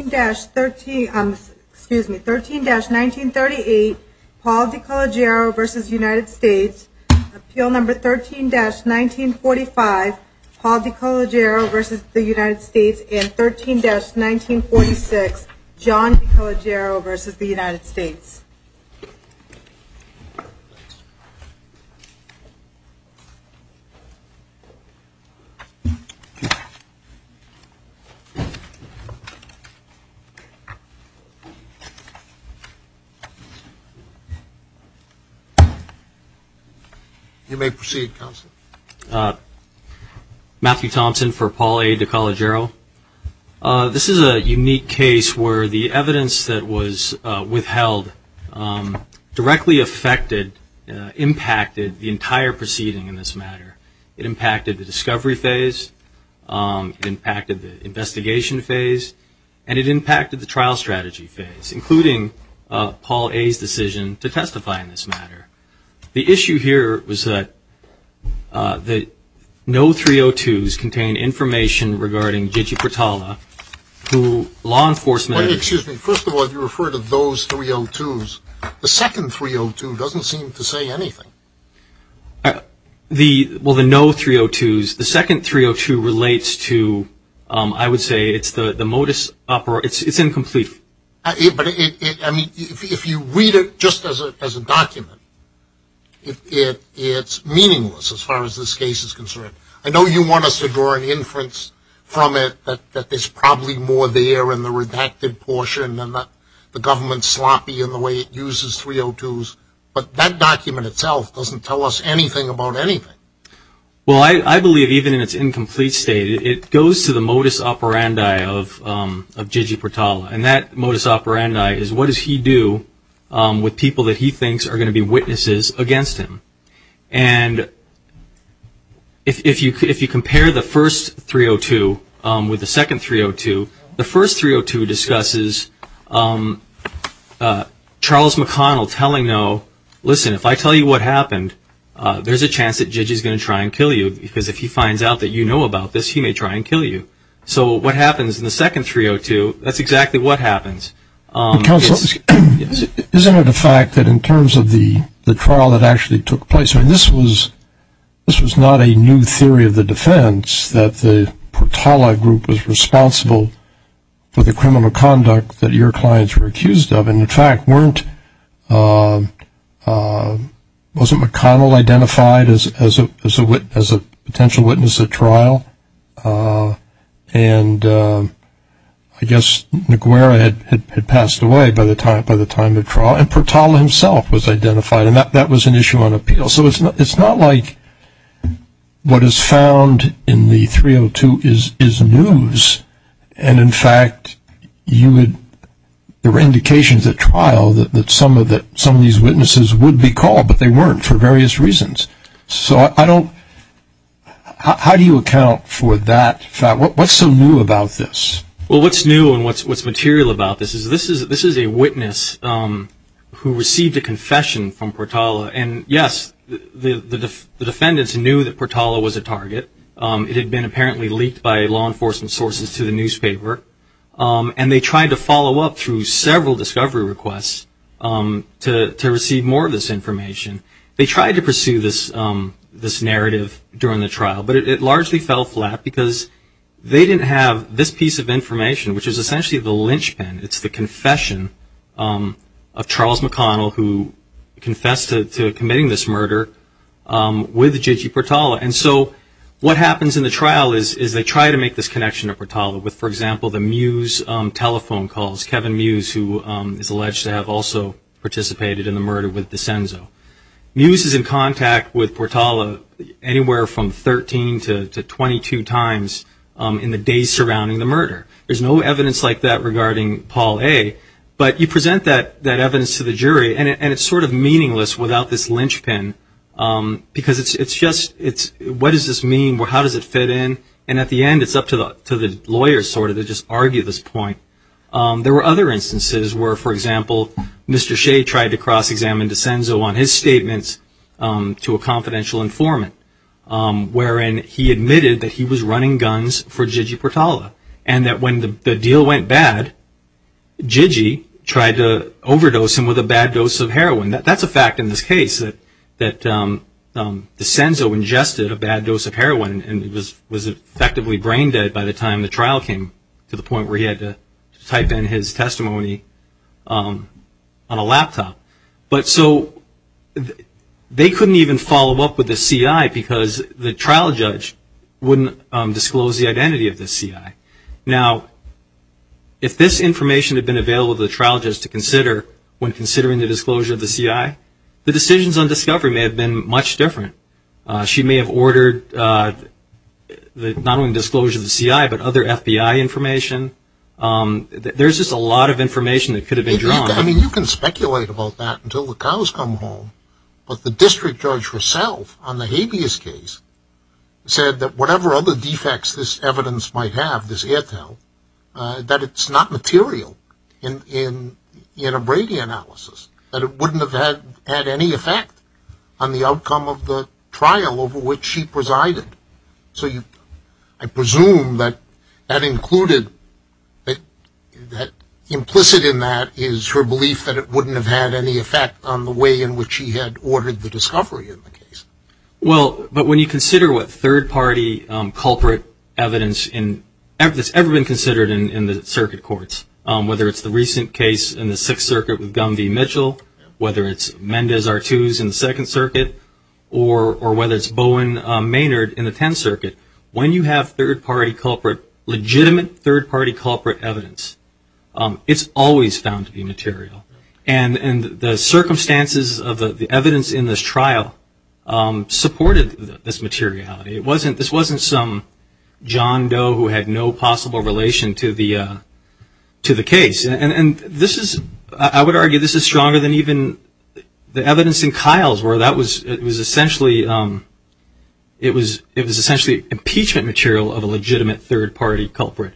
13-1938 Paul DeCologero v. United States Appeal No. 13-1945 Paul DeCologero v. United States and 13-1946 John DeCologero v. United States Matthew Thompson for Paul A. DeCologero. This is a unique case where the evidence that was withheld directly affected, impacted the entire proceeding in this matter. It impacted the discovery phase, it impacted the investigation phase, and it impacted the trial strategy phase, including Paul A.'s decision to testify in this matter. The issue here was that no 302s contained information regarding Gigi Portala, who law enforcement... Excuse me. First of all, you refer to those 302s. The second 302 doesn't seem to say anything. Well, the no 302s, the second 302 relates to, I would say, it's the modus operandi, it's incomplete. But, I mean, if you read it just as a document, it's meaningless as far as this case is concerned. I know you want us to draw an inference from it that there's probably more there in the redacted portion and the government's sloppy in the way it uses 302s, but that document itself doesn't tell us anything about anything. Well, I believe even in its incomplete state, it goes to the modus operandi of Gigi Portala, and that modus operandi is what does he do with people that he thinks are going to be witnesses against him. And if you compare the first 302 with the second 302, the first 302 discusses Charles McConnell telling no, listen, if I tell you what happened, there's a chance that Gigi's going to try and kill you, because if he finds out that you know about this, he may try and kill you. So what happens in the second 302, that's exactly what happens. Counsel, isn't it a fact that in terms of the trial that actually took place, I mean, this was not a new theory of the defense that the Portala group was responsible for the trial, wasn't McConnell identified as a potential witness at trial, and I guess Naguera had passed away by the time of the trial, and Portala himself was identified, and that was an issue on appeal. So it's not like what is found in the 302 is news, and in fact, there were indications at trial that some of these witnesses would be called, but they weren't for various reasons. So how do you account for that fact? What's so new about this? Well, what's new and what's material about this is this is a witness who received a confession from Portala, and yes, the defendants knew that Portala was a target, it had been apparently leaked by law enforcement sources to the newspaper, and they tried to follow up through several discovery requests to receive more of this information. They tried to pursue this narrative during the trial, but it largely fell flat because they didn't have this piece of information, which is essentially the linchpin. It's the confession of Charles McConnell, who confessed to committing this murder with Jiji Portala. And so what happens in the trial is they try to make this connection to Portala with, for alleged to have also participated in the murder with Desenzo. Muse is in contact with Portala anywhere from 13 to 22 times in the days surrounding the murder. There's no evidence like that regarding Paul A., but you present that evidence to the jury, and it's sort of meaningless without this linchpin because it's just, what does this mean? How does it fit in? And at the end, it's up to the lawyers sort of to just argue this point. There were other instances where, for example, Mr. Shea tried to cross-examine Desenzo on his statements to a confidential informant, wherein he admitted that he was running guns for Jiji Portala, and that when the deal went bad, Jiji tried to overdose him with a bad dose of heroin. That's a fact in this case, that Desenzo ingested a bad dose of heroin and was effectively brain by the time the trial came to the point where he had to type in his testimony on a laptop. But so, they couldn't even follow up with the CI because the trial judge wouldn't disclose the identity of the CI. Now, if this information had been available to the trial judge to consider when considering the disclosure of the CI, the decisions on discovery may have been much different. She may have ordered not only the disclosure of the CI, but other FBI information. There's just a lot of information that could have been drawn. I mean, you can speculate about that until the cows come home, but the district judge herself on the habeas case said that whatever other defects this evidence might have, this Airtel, that it's not material in a Brady analysis, that it wouldn't have had any effect on the outcome of the trial over which she presided. So I presume that that included, that implicit in that is her belief that it wouldn't have had any effect on the way in which she had ordered the discovery of the case. Well, but when you consider what third-party culprit evidence that's ever been considered in the circuit courts, whether it's the recent case in the Sixth Circuit with Gumby Mitchell, whether it's Mendez-Artuz in the Second Circuit, or whether it's Bowen Maynard in the Tenth Circuit, when you have third-party culprit, legitimate third-party culprit evidence, it's always found to be material. And the circumstances of the evidence in this trial supported this materiality. It wasn't, this wasn't some John Doe who had no possible relation to the case. And this is, I would argue this is stronger than even the evidence in Kyle's where that was, it was essentially, it was essentially impeachment material of a legitimate third-party culprit.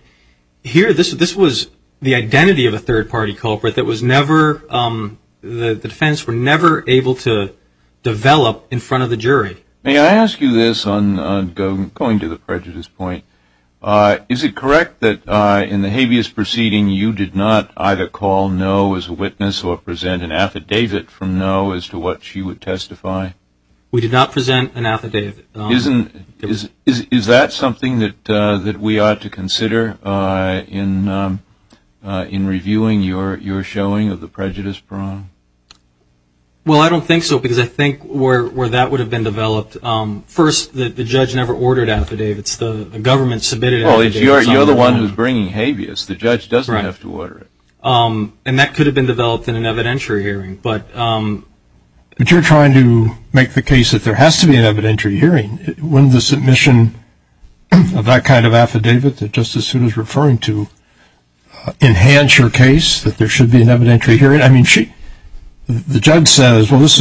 Here, this was the identity of a third-party culprit that was never, the defense were never able to develop in front of the jury. May I ask you this on, going to the prejudice point, is it correct that in the habeas proceeding you did not either call no as a witness or present an affidavit from no as to what she would testify? We did not present an affidavit. Is that something that we ought to consider in reviewing your showing of the prejudice prong? Well, I don't think so, because I think where that would have been developed, first, the judge never ordered affidavits, the government submitted affidavits on their own. Well, you're the one who's bringing habeas, the judge doesn't have to order it. And that could have been developed in an evidentiary hearing, but... But you're trying to make the case that there has to be an evidentiary hearing. Wouldn't the submission of that kind of affidavit that Justice Soon is referring to enhance your case, that there should be an evidentiary hearing? I mean, the judge says, well, this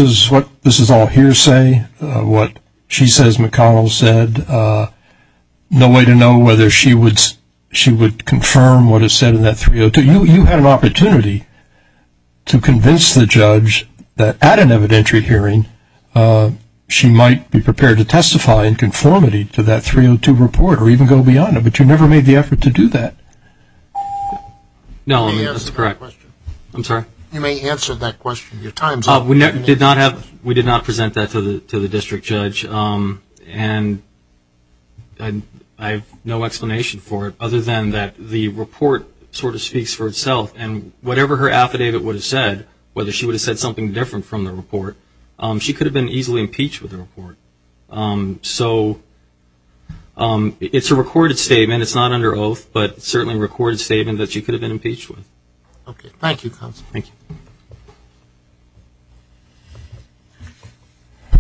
is all hearsay, what she says McConnell said, no way to know whether she would confirm what is said in that 302. You had an opportunity to convince the judge that at an evidentiary hearing, she might be prepared to testify in conformity to that 302 report or even go beyond it, but you never made the effort to do that. No, I mean, that's correct. I'm sorry? You may answer that question in your time zone. We did not present that to the district judge, and I have no explanation for it other than that the report sort of speaks for itself, and whatever her affidavit would have said, whether she would have said something different from the report, she could have been easily impeached with the report. So it's a recorded statement, it's not under oath, but it's certainly a recorded statement that she could have been impeached with. Thank you, counsel. Thank you.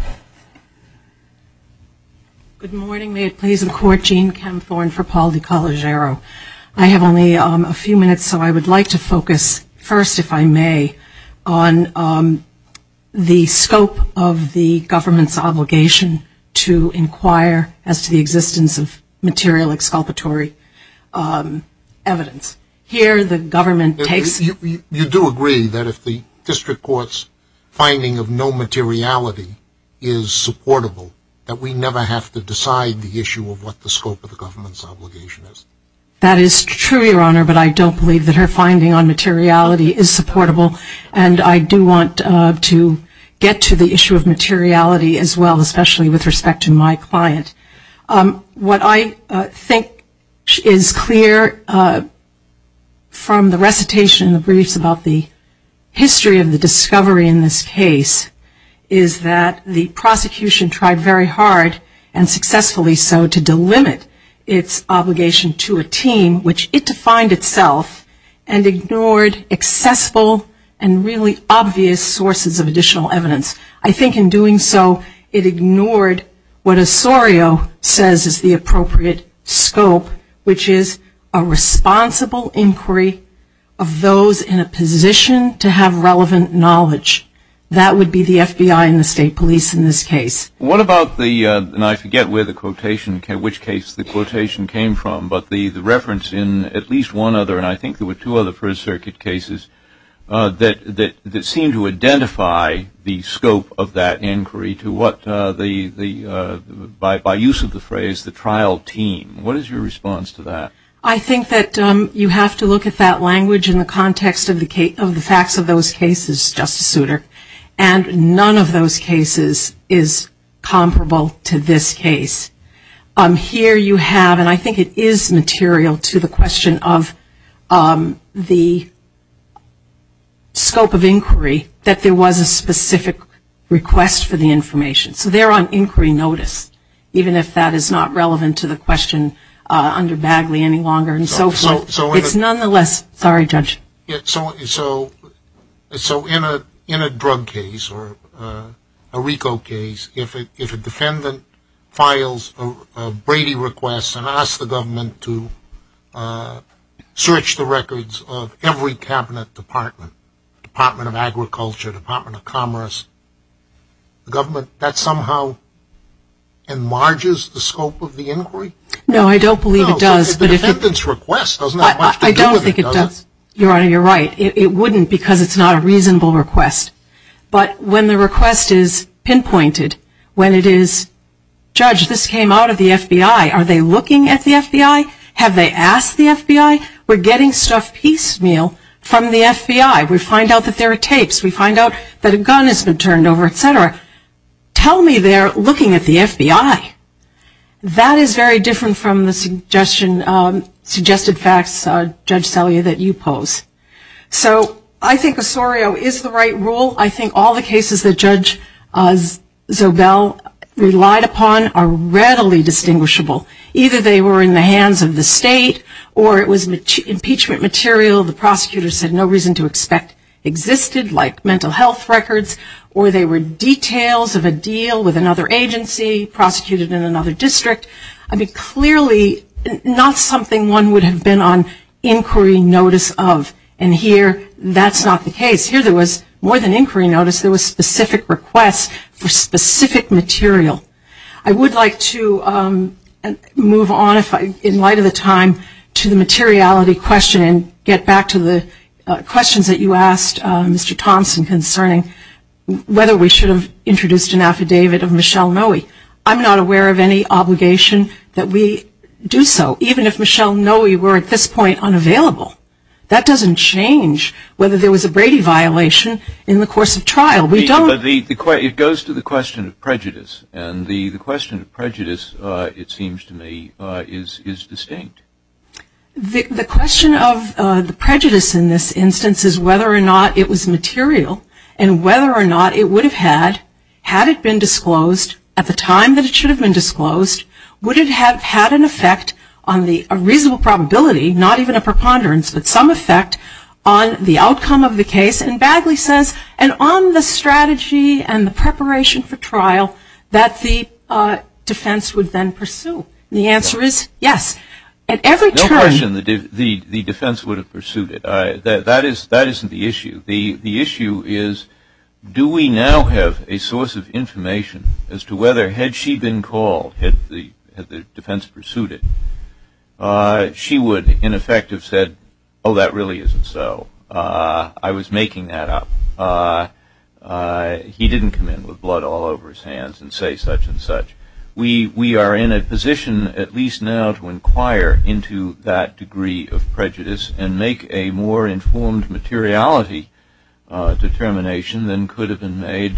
Good morning. May it please the court, Jean Camthorne for Paul DeCaligero. I have only a few minutes, so I would like to focus first, if I may, on the scope of the government's obligation to inquire as to the existence of material exculpatory evidence. You do agree that if the district court's finding of no materiality is supportable, that we never have to decide the issue of what the scope of the government's obligation is? That is true, Your Honor, but I don't believe that her finding on materiality is supportable, and I do want to get to the issue of materiality as well, especially with respect to my client. What I think is clear from the recitation in the briefs about the history of the discovery in this case is that the prosecution tried very hard and successfully so to delimit its obligation to a team, which it defined itself and ignored accessible and really obvious sources of additional evidence. I think in doing so, it ignored what Osorio says is the appropriate scope, which is a responsible inquiry of those in a position to have relevant knowledge. That would be the FBI and the state police in this case. What about the, and I forget where the quotation, which case the quotation came from, but the reference in at least one other, and I think there were two other First Circuit cases, that seem to identify the scope of that inquiry to what the, by use of the phrase, the trial team. What is your response to that? I think that you have to look at that language in the context of the facts of those cases, Justice Souter, and none of those cases is comparable to this case. Here you have, and I think it is material to the question of the scope of inquiry, that there was a specific request for the information. So they're on inquiry notice, even if that is not relevant to the question under Bagley any longer and so forth. It's nonetheless, sorry Judge. So in a drug case or a RICO case, if a defendant files a Brady request and asks the government to search the records of every cabinet department, Department of Agriculture, Department of Commerce, the government, that somehow enlarges the scope of the inquiry? No, I don't believe it does. The defendant's request doesn't have much to do with it, does it? I don't think it does. Your Honor, you're right. It wouldn't because it's not a reasonable request. But when the request is pinpointed, when it is, Judge, this came out of the FBI, are they looking at the FBI? Have they asked the FBI? We're getting stuff piecemeal from the FBI. We find out that there are tapes. We find out that a gun has been turned over, et cetera. Tell me they're looking at the FBI. That is very different from the suggested facts, Judge Selye, that you pose. So I think Osorio is the right rule. I think all the cases that Judge Zobel relied upon are readily distinguishable. Either they were in the hands of the state or it was impeachment material. The prosecutor said no reason to expect existed, like mental health records, or they were details of a deal with another agency, prosecuted in another district. I mean, clearly, not something one would have been on inquiry notice of, and here that's not the case. Here there was, more than inquiry notice, there was specific requests for specific material. I would like to move on, in light of the time, to the materiality question and get back to the questions that you asked, Mr. Thompson, concerning whether we should have introduced an affidavit of Michelle Noe. I'm not aware of any obligation that we do so, even if Michelle Noe were at this point unavailable. That doesn't change whether there was a Brady violation in the course of trial. We don't- But it goes to the question of prejudice, and the question of prejudice, it seems to me, is distinct. The question of the prejudice in this instance is whether or not it was material, and whether or not it would have had, had it been disclosed at the time that it should have been disclosed, would it have had an effect on the reasonable probability, not even a preponderance, but some effect on the outcome of the case, and Bagley says, and on the strategy and the preparation for trial that the defense would then pursue. The answer is yes. At every turn- Don't question the defense would have pursued it. That isn't the issue. The issue is, do we now have a source of information as to whether, had she been called, had the defense pursued it, she would, in effect, have said, oh, that really isn't so, I was making that up, he didn't come in with blood all over his hands and say such and such. We are in a position, at least now, to inquire into that degree of prejudice and make a more informed materiality determination than could have been made,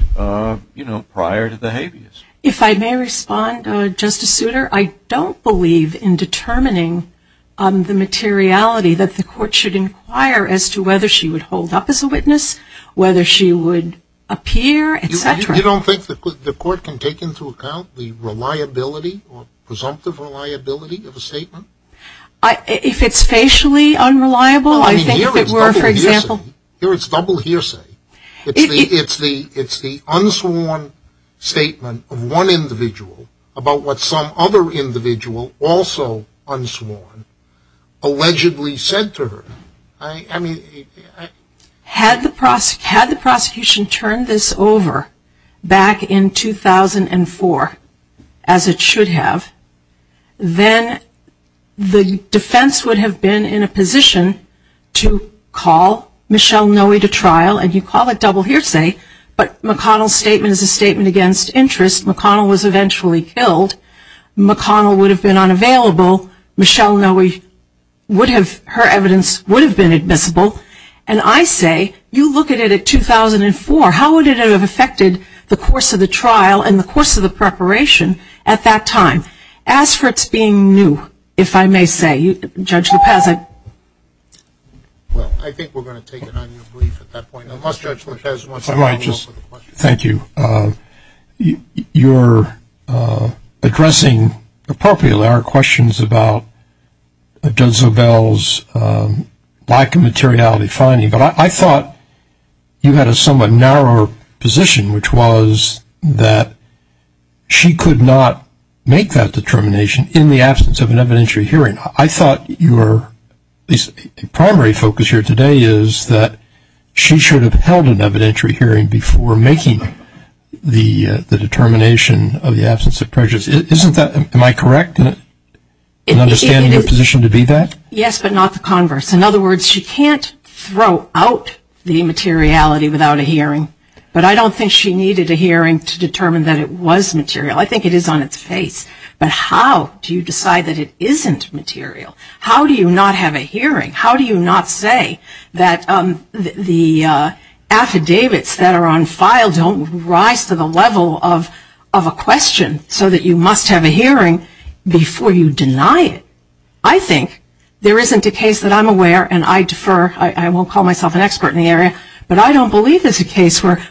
you know, prior to the habeas. If I may respond, Justice Souter, I don't believe in determining the materiality that the court should inquire as to whether she would hold up as a witness, whether she would appear, et cetera. You don't think the court can take into account the reliability, presumptive reliability of a statement? If it's facially unreliable, I think if it were, for example- Here it's double hearsay. It's the unsworn statement of one individual about what some other individual, also unsworn, allegedly said to her. Had the prosecution turned this over back in 2004, as it should have, then the defense would have been in a position to call Michelle Noe to trial, and you call it double hearsay, but McConnell's statement is a statement against interest, McConnell was eventually killed, McConnell would have been unavailable, Michelle Noe, her evidence would have been admissible, and I say, you look at it at 2004, how would it have affected the course of the trial and the course of the preparation at that time? As for it being new, if I may say, Judge Lopez- Well, I think we're going to take an item of brief at that point, unless Judge Lopez wants to open it up for questions. Thank you, you're addressing appropriately our questions about Judge Zobel's lack of materiality finding, but I thought you had a somewhat narrower position, which was that she could not make that determination in the absence of an evidentiary hearing. I thought your primary focus here today is that she should have held an evidentiary hearing before making the determination of the absence of prejudice. Isn't that, am I correct in understanding her position to be that? Yes, but not the converse. In other words, she can't throw out the immateriality without a hearing, but I don't think she needed a hearing to determine that it was material. I think it is on its face, but how do you decide that it isn't material? How do you not have a hearing? How do you not say that the affidavits that are on file don't rise to the level of a question, so that you must have a hearing before you deny it? I think there isn't a case that I'm aware, and I defer, I won't call myself an expert in the area, but I don't believe there's a case where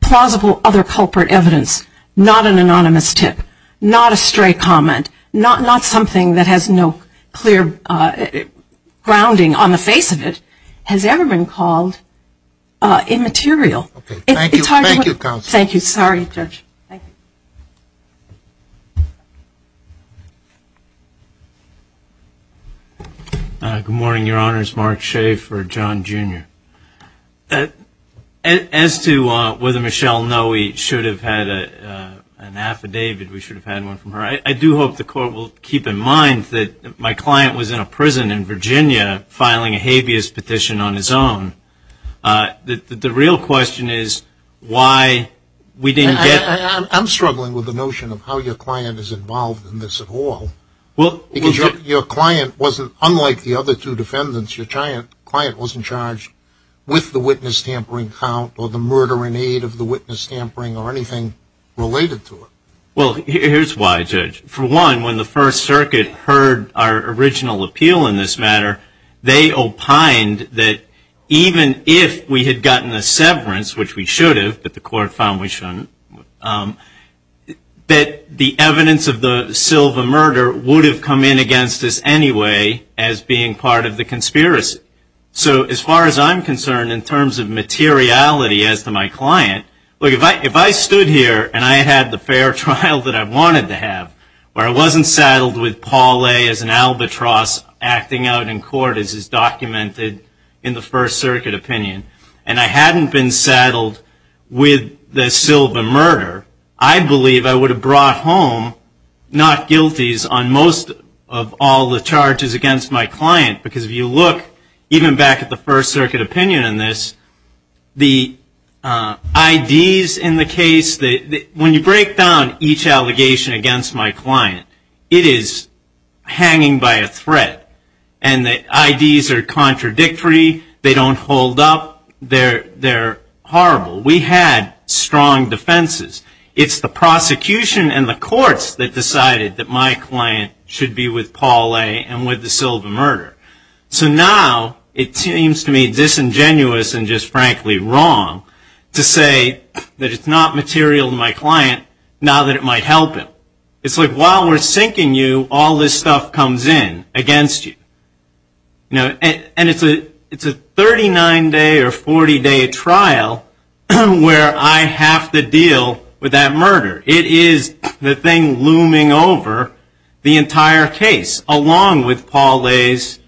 plausible other culprit evidence, not an anonymous tip, not a stray comment, not something that has no clear grounding on the face of it, has ever been called immaterial. Thank you, counsel. Thank you. Sorry, Judge. Good morning, Your Honors. Mark Schaefer, John, Jr. As to whether Michelle Noe should have had an affidavit, we should have had one from her, I do hope the Court will keep in mind that my client was in a prison in Virginia filing a habeas petition on his own. The real question is why we didn't get... I'm struggling with the notion of how your client is involved in this at all. Your client wasn't, unlike the other two defendants, your client wasn't charged with the witness tampering count or the murdering aid of the witness tampering or anything related to it. Well, here's why, Judge. For one, when the First Circuit heard our original appeal in this matter, they opined that even if we had gotten a severance, which we should have, but the Court found we shouldn't, that the evidence of the Silva murder would have come in against us anyway as being part of the conspiracy. So as far as I'm concerned, in terms of materiality as to my client, if I stood here and I had the fair trial that I wanted to have, where I wasn't saddled with Paul A. as an albatross acting out in court as is documented in the First Circuit opinion, and I hadn't been saddled with the Silva murder, I believe I would have brought home not guilties on most of all the charges against my client, because if you look even back at the First Circuit opinion in this, the IDs in the case, when you break down each allegation against my client, it is hanging by a thread, and the IDs are contradictory, they don't hold up, they're horrible. We had strong defenses. It's the prosecution and the courts that decided that my client should be with Paul A. and with the Silva murder. So now it seems to me disingenuous and just frankly wrong to say that it's not material to my client, now that it might help him. It's like while we're sinking you, all this stuff comes in against you. And it's a 39 day or 40 day trial, and it's where I have to deal with that murder. It is the thing looming over the entire case along with Paul A.'s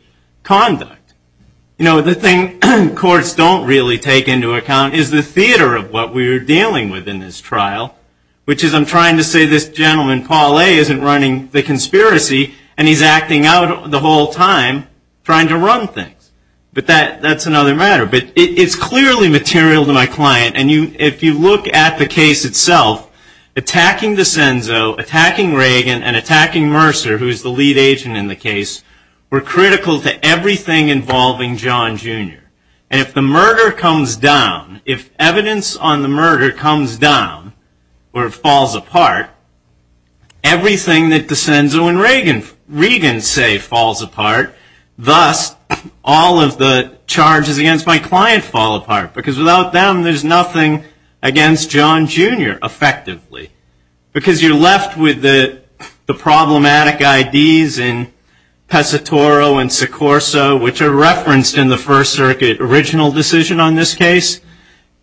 conduct. The thing courts don't really take into account is the theater of what we're dealing with in this trial, which is I'm trying to say this gentleman Paul A. isn't running the conspiracy, and he's acting out the whole time trying to run things. But that's another matter. It's clearly material to my client, and if you look at the case itself, attacking DeCenzo, attacking Reagan, and attacking Mercer, who's the lead agent in the case, were critical to everything involving John Jr. And if the murder comes down, if evidence on the murder comes down or falls apart, everything that DeCenzo and Reagan say falls apart, thus all of the charges against my client fall apart. Because without them, there's nothing against John Jr. effectively. Because you're left with the problematic IDs in Pesatoro and Secorso, which are referenced in the First Circuit original decision on this case,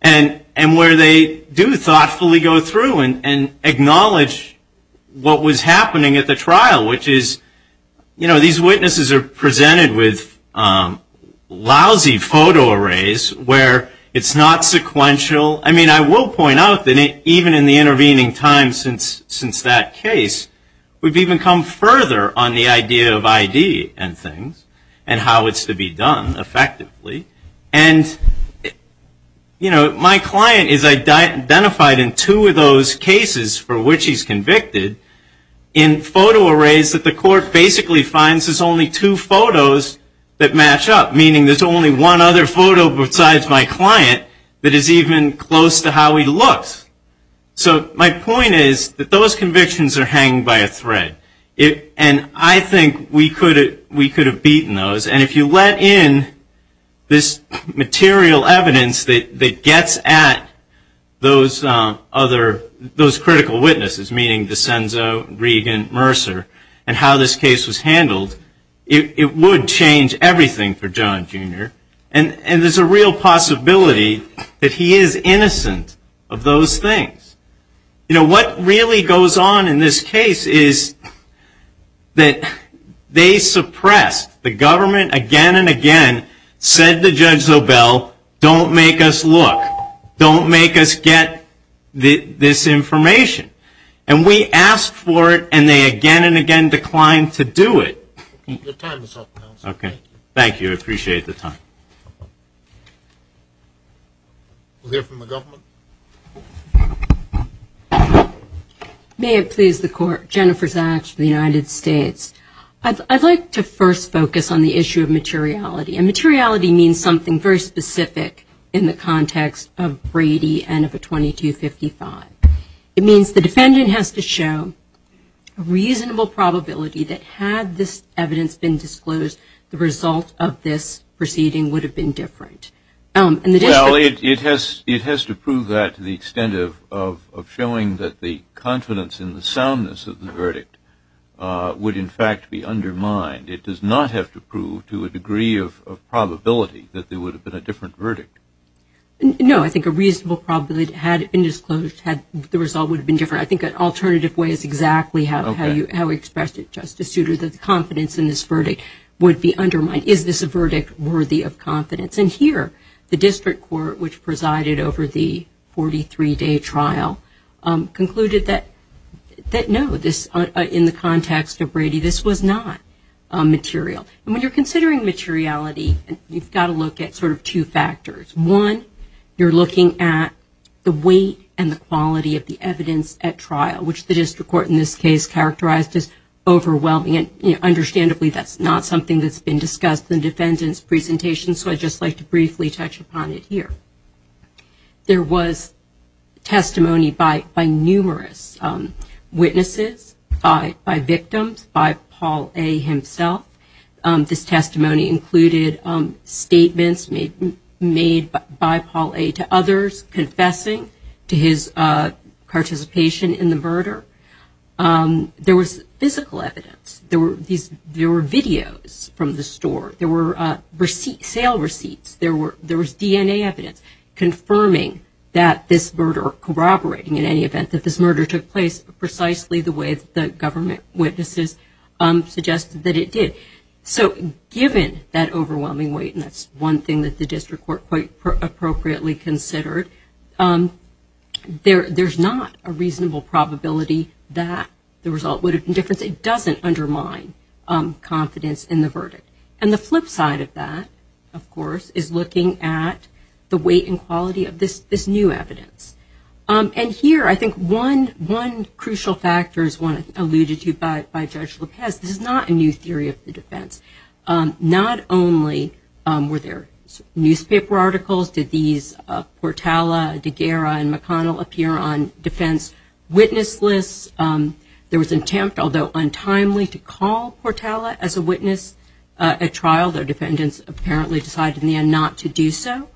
and where they do thoughtfully go through and acknowledge what was happening at the trial, which is these witnesses are presented with lousy photo arrays where it's not sequential. I mean, I will point out that even in the intervening time since that case, we've even come further on the idea of ID and things, and how it's to be done effectively. And my client is identified in two of those cases for which he's convicted in photo arrays that the court basically finds there's only two photos that match up, meaning there's only one other photo besides my client that is even close to how he looks. So my point is that those convictions are hanging by a thread. And I think we could have beaten those. And if you let in this those critical witnesses, meaning DeCenzo, Regan, Mercer, and how this case was handled, it would change everything for John Jr. And there's a real possibility that he is innocent of those things. You know, what really goes on in this case is that they suppressed, the government again and again said to Judge Zobel, don't make us look, don't make us get this information. And we asked for it, and they again and again declined to do it. Okay. Thank you. I appreciate the time. We'll hear from the government. May it please the Court. Jennifer Zatch from the United States. I'd like to first focus on the issue of materiality. And materiality means something very specific in the context of Brady and of a 2255. It means the defendant has to show a reasonable probability that had this evidence been disclosed, the result of this proceeding would have been different. Well, it has to prove that to the extent of showing that the confidence in the soundness of the verdict would in fact be undermined. It does not have to prove to a degree of probability that there would have been a different verdict. No, I think a reasonable probability had it been disclosed, the result would have been different. I think an alternative way is exactly how you expressed it, Justice Souter, that the confidence in this verdict would be undermined. Is this a verdict worthy of confidence? And here, the District Court, which presided over the 43-day trial, concluded that no, in the case of Brady, there was no material. And when you're considering materiality, you've got to look at sort of two factors. One, you're looking at the weight and the quality of the evidence at trial, which the District Court in this case characterized as overwhelming. And understandably, that's not something that's been discussed in the defendant's presentation, so I'd just like to briefly touch upon it here. There was testimony by numerous witnesses, by victims, by Paul A. himself. This testimony included statements made by Paul A. to others confessing to his participation in the murder. There was physical evidence. There were videos from the store. There were sale receipts. There was DNA evidence confirming that this murder took place precisely the way the government witnesses suggested that it did. So given that overwhelming weight, and that's one thing that the District Court quite appropriately considered, there's not a reasonable probability that the result would have been different. It doesn't undermine confidence in the verdict. And the flip side of that, of course, is looking at the weight and quality of this new evidence. And here, I think one crucial factor is one alluded to by Judge Lopez. This is not a new theory of the defense. Not only were there newspaper articles, did these Portala, DeGara, and McConnell appear on defense witness lists. There was an attempt, although untimely, to call Portala as a witness at trial. The defendants apparently decided in the end not to do so.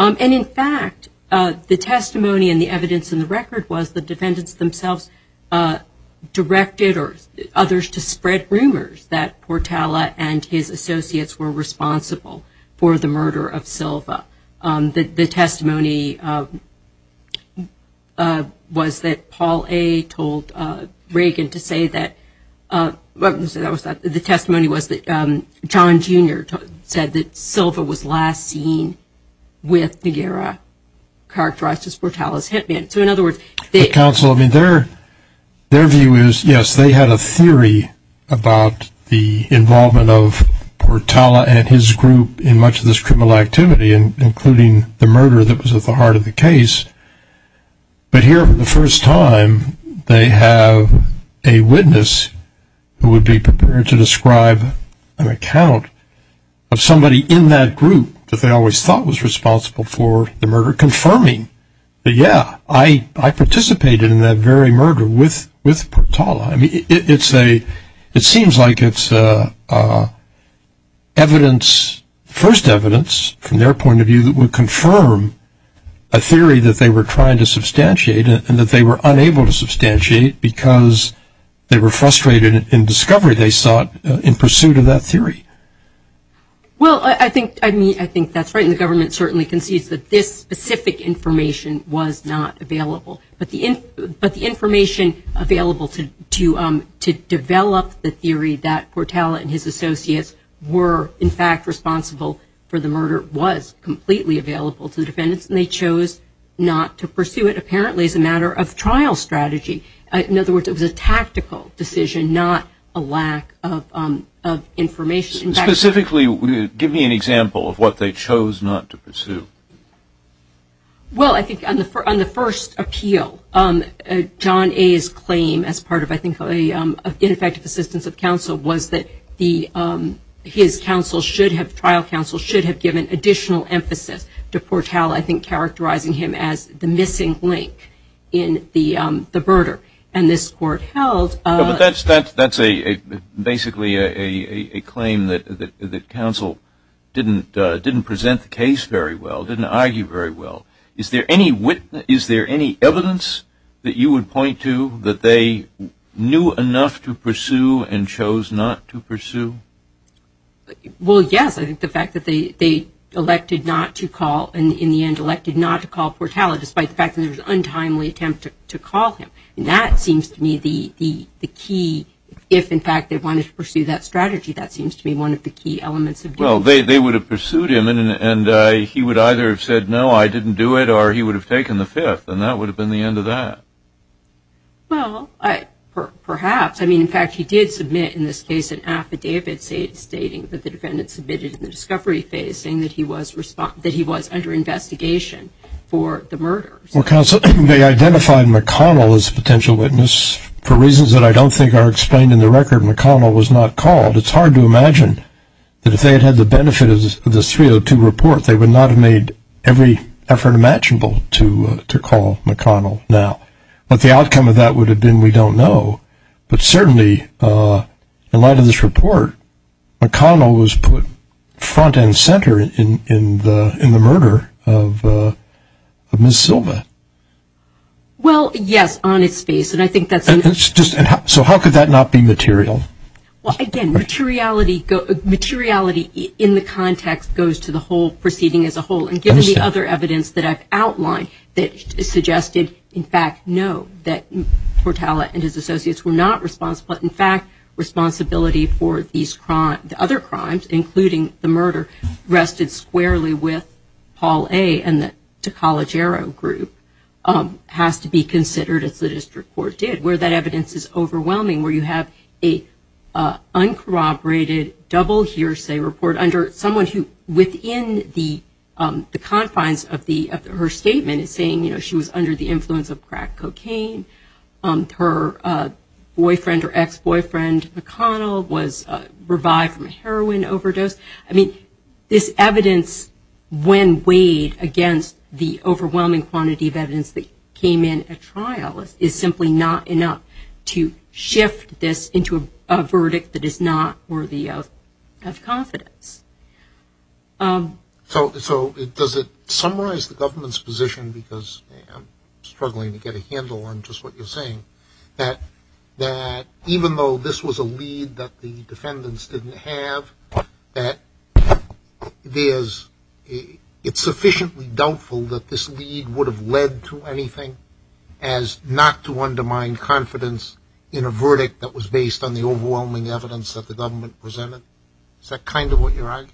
And in fact, the testimony and the evidence in the record was the defendants themselves directed or others to spread rumors that Portala and his associates were responsible for the murder of Silva. The testimony was that Paul A. told Reagan to say that, the testimony was that John Jr. said that he was responsible for the murder of Silva. And he said that Silva was last seen with DeGara, characterized as Portala's hit man. So in other words, the counsel, I mean, their view is, yes, they had a theory about the involvement of Portala and his group in much of this criminal activity, including the murder that was at the heart of the case. But here, for the first time, they have a witness who would be prepared to describe an account of somebody in that group that they always thought was responsible for the murder, confirming that, yeah, I participated in that very murder with Portala. I mean, it's a, it seems like it's evidence, first evidence, from their point of view, that would confirm a theory that they were trying to substantiate because they were frustrated in discovery they sought in pursuit of that theory. Well, I think, I mean, I think that's right. And the government certainly concedes that this specific information was not available. But the information available to develop the theory that Portala and his associates were, in fact, responsible for the murder was completely available to the defendants. And they chose not to pursue it, apparently, as a matter of trial strategy. In other words, it was a tactical decision, not a lack of information. Specifically, give me an example of what they chose not to pursue. Well, I think on the first appeal, John A.'s claim as part of, I think, an ineffective assistance of counsel was that his counsel should have, trial counsel should have given additional emphasis to Portala, I think, characterizing him as the missing link in the murder. And this court held- But that's a, basically, a claim that counsel didn't present the case very well, didn't argue very well. Is there any witness, is there any evidence that you would point to that they knew enough to pursue and chose not to pursue? Well, yes. I think the fact that they elected not to call, and in the end elected not to call Portala, despite the fact that it was an untimely attempt to call him. And that seems to me the key, if, in fact, they wanted to pursue that strategy, that seems to me one of the key elements of doing that. Well, they would have pursued him, and he would either have said, no, I didn't do it, or he would have taken the fifth. And that would have been the end of that. Well, perhaps. I mean, in fact, he did submit, in this case, an affidavit stating that the defendant submitted in the discovery phase, saying that he was under investigation for the murders. Well, counsel, they identified McConnell as a potential witness for reasons that I don't think are explained in the record. McConnell was not called. It's hard to imagine that if they had had the benefit of this 302 report, they would not have made every effort imaginable to call McConnell. Now, what the outcome of that would have been, we don't know. But certainly, in light of this report, McConnell was put front and center in the murder of Ms. Silva. Well, yes, on its face. And I think that's... So how could that not be material? Well, again, materiality in the context goes to the whole proceeding as a whole. And given the other evidence that I've outlined that suggested, in fact, no, that Portala and his associates were not responsible. But in fact, responsibility for these crimes, the other crimes, including the murder, rested squarely with Paul A. and the Tocalegero group, has to be considered, as the district court did, where that evidence is overwhelming, where you have a uncorroborated, double hearsay report under someone who, within the context of her statement, is saying she was under the influence of crack cocaine, her boyfriend or ex-boyfriend McConnell was revived from a heroin overdose. I mean, this evidence, when weighed against the overwhelming quantity of evidence that came in at trial, is simply not enough to shift this into a verdict that is not worthy of confidence. So, does it summarize the government's position, because I'm struggling to get a handle on just what you're saying, that even though this was a lead that the defendants didn't have, that there's... it's sufficiently doubtful that this lead would have led to anything as not to undermine confidence in a verdict that was based on the overwhelming evidence that the government presented? Is that kind of what you're arguing?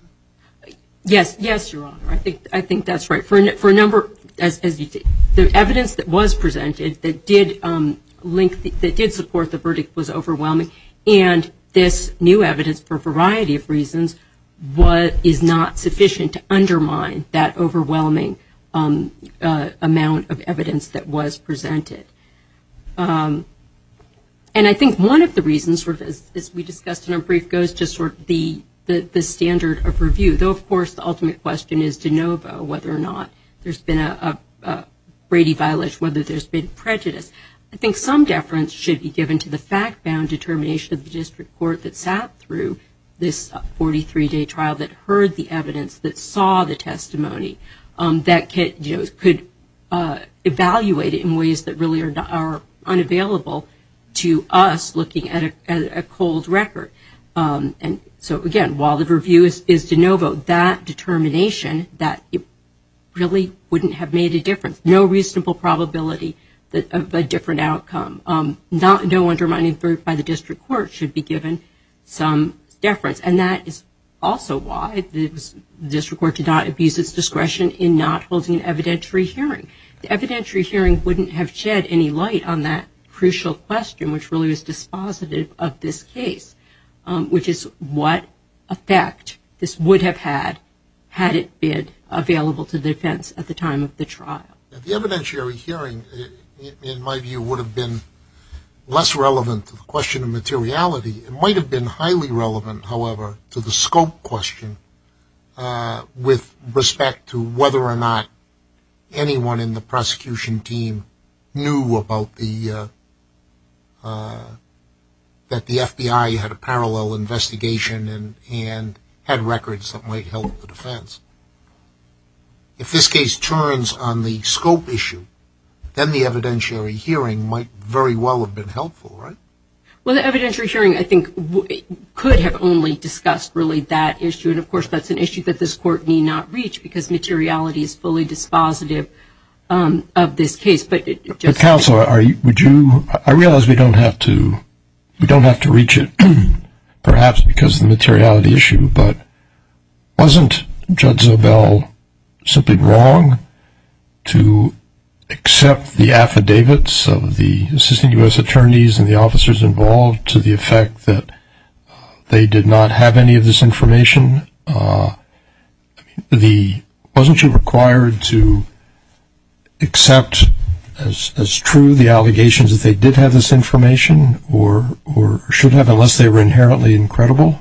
Yes, yes, Your Honor. I think that's right. For a number... the evidence that was presented that did link... that did support the verdict was overwhelming, and this new evidence, for a variety of reasons, is not sufficient to undermine that overwhelming amount of evidence that was presented. And I think one of the reasons, as we discussed in our brief, goes to sort of the standard of review. Though, of course, the ultimate question is de novo whether or not there's been a Brady violence, whether there's been prejudice. I think some deference should be given to the fact-bound determination of the district court that sat through this 43-day trial that heard the evidence, that saw the testimony, that could evaluate it in ways that really are unavailable to us looking at a cold record. And so, again, while the review is de novo, that determination, that really wouldn't have made a difference. No reasonable probability of a different outcome. No undermining by the district court should be given some deference, and that is also why the district court did not abuse its discretion in not holding an evidentiary hearing. The evidentiary hearing wouldn't have shed any light on that crucial question, which really was dispositive of this case, which is what effect this would have had had it been available to the defense at the time of the trial. The evidentiary hearing, in my view, would have been less relevant to the question of materiality. It might have been highly relevant, however, to the scope question with respect to whether or not anyone in the prosecution team knew about the, that the FBI had a parallel investigation and had records that might help the defense. If this case turns on the scope issue, then the evidentiary hearing might very well have been helpful, right? Well, the evidentiary hearing, I think, could have only discussed really that issue, and of course, that's an issue that this court need not reach, because materiality is fully dispositive of this case, but it just... Counsel, would you, I realize we don't have to, we don't have to reach it, perhaps because of the materiality issue, but wasn't Judge Zobel simply wrong to accept the affidavits of the Assistant U.S. Attorneys and the officers involved to the effect that they did not have any of this information? The, wasn't she required to accept as true the allegations that they did have this information, or should have, unless they were inherently incredible?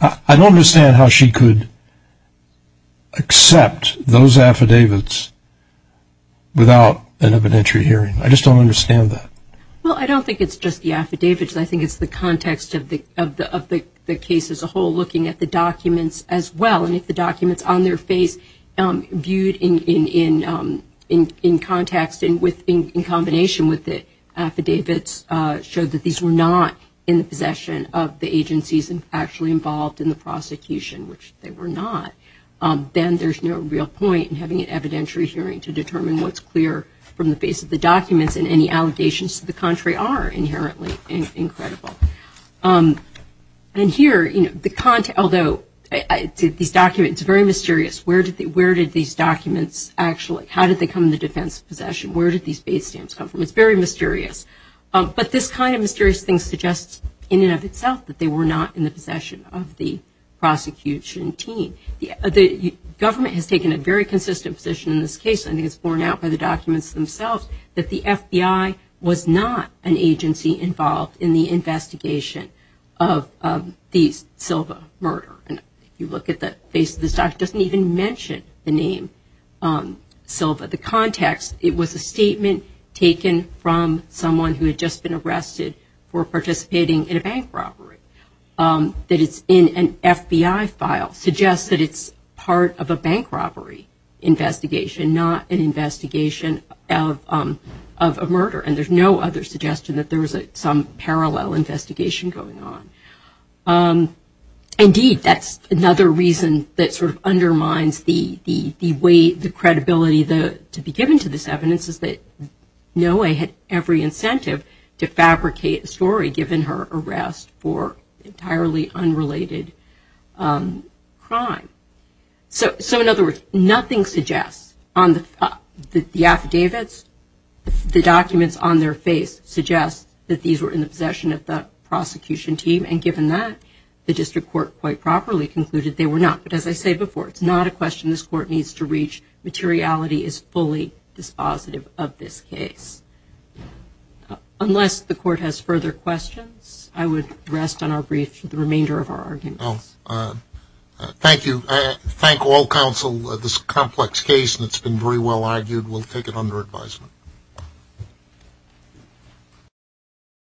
I don't understand how she could accept those affidavits without an evidentiary hearing. I just don't understand that. Well, I don't think it's just the affidavits. I think it's the context of the case as a whole, looking at the documents as well, and if the documents on their face viewed in context, in combination with the affidavits, show that these were not in the possession of the agencies actually involved in the prosecution, which they were not, then there's no real point in having an evidentiary hearing to determine what's clear from the face of the documents, and any allegations to the contrary are inherently incredible. And here, you know, the, although these documents, it's very mysterious. Where did these documents actually, how did they come in the defense of possession? Where did these base stamps come from? It's very mysterious. But this kind of mysterious thing suggests in and of itself that they were not in the possession of the prosecution team. The government has taken a very consistent position in this case, I think it's borne out by the documents themselves, that the FBI was not an agency involved in the investigation of the Silva murder. And if you look at the face of this document, it doesn't even mention the name Silva. The context, it was a statement taken from someone who had just been arrested for participating in a bank robbery. That it's in an FBI file suggests that it's part of a bank robbery investigation, not an investigation of a murder. And there's no other suggestion that there was some parallel investigation going on. Indeed, that's another reason that sort of undermines the way, the credibility to be given to this evidence is that Noe had every incentive to fabricate a story given her arrest for entirely unrelated crime. So in other words, nothing suggests on the affidavits, the documents on their face suggest that these were in the possession of the prosecution team. And given that, the district court quite properly concluded they were not. But as I said before, it's not a question this court needs to reach. Materiality is fully dispositive of this case. Unless the court has further questions, I would rest on our brief for the remainder of our arguments. Well, thank you. I thank all counsel of this complex case and it's been very well argued. We'll take it under advisement.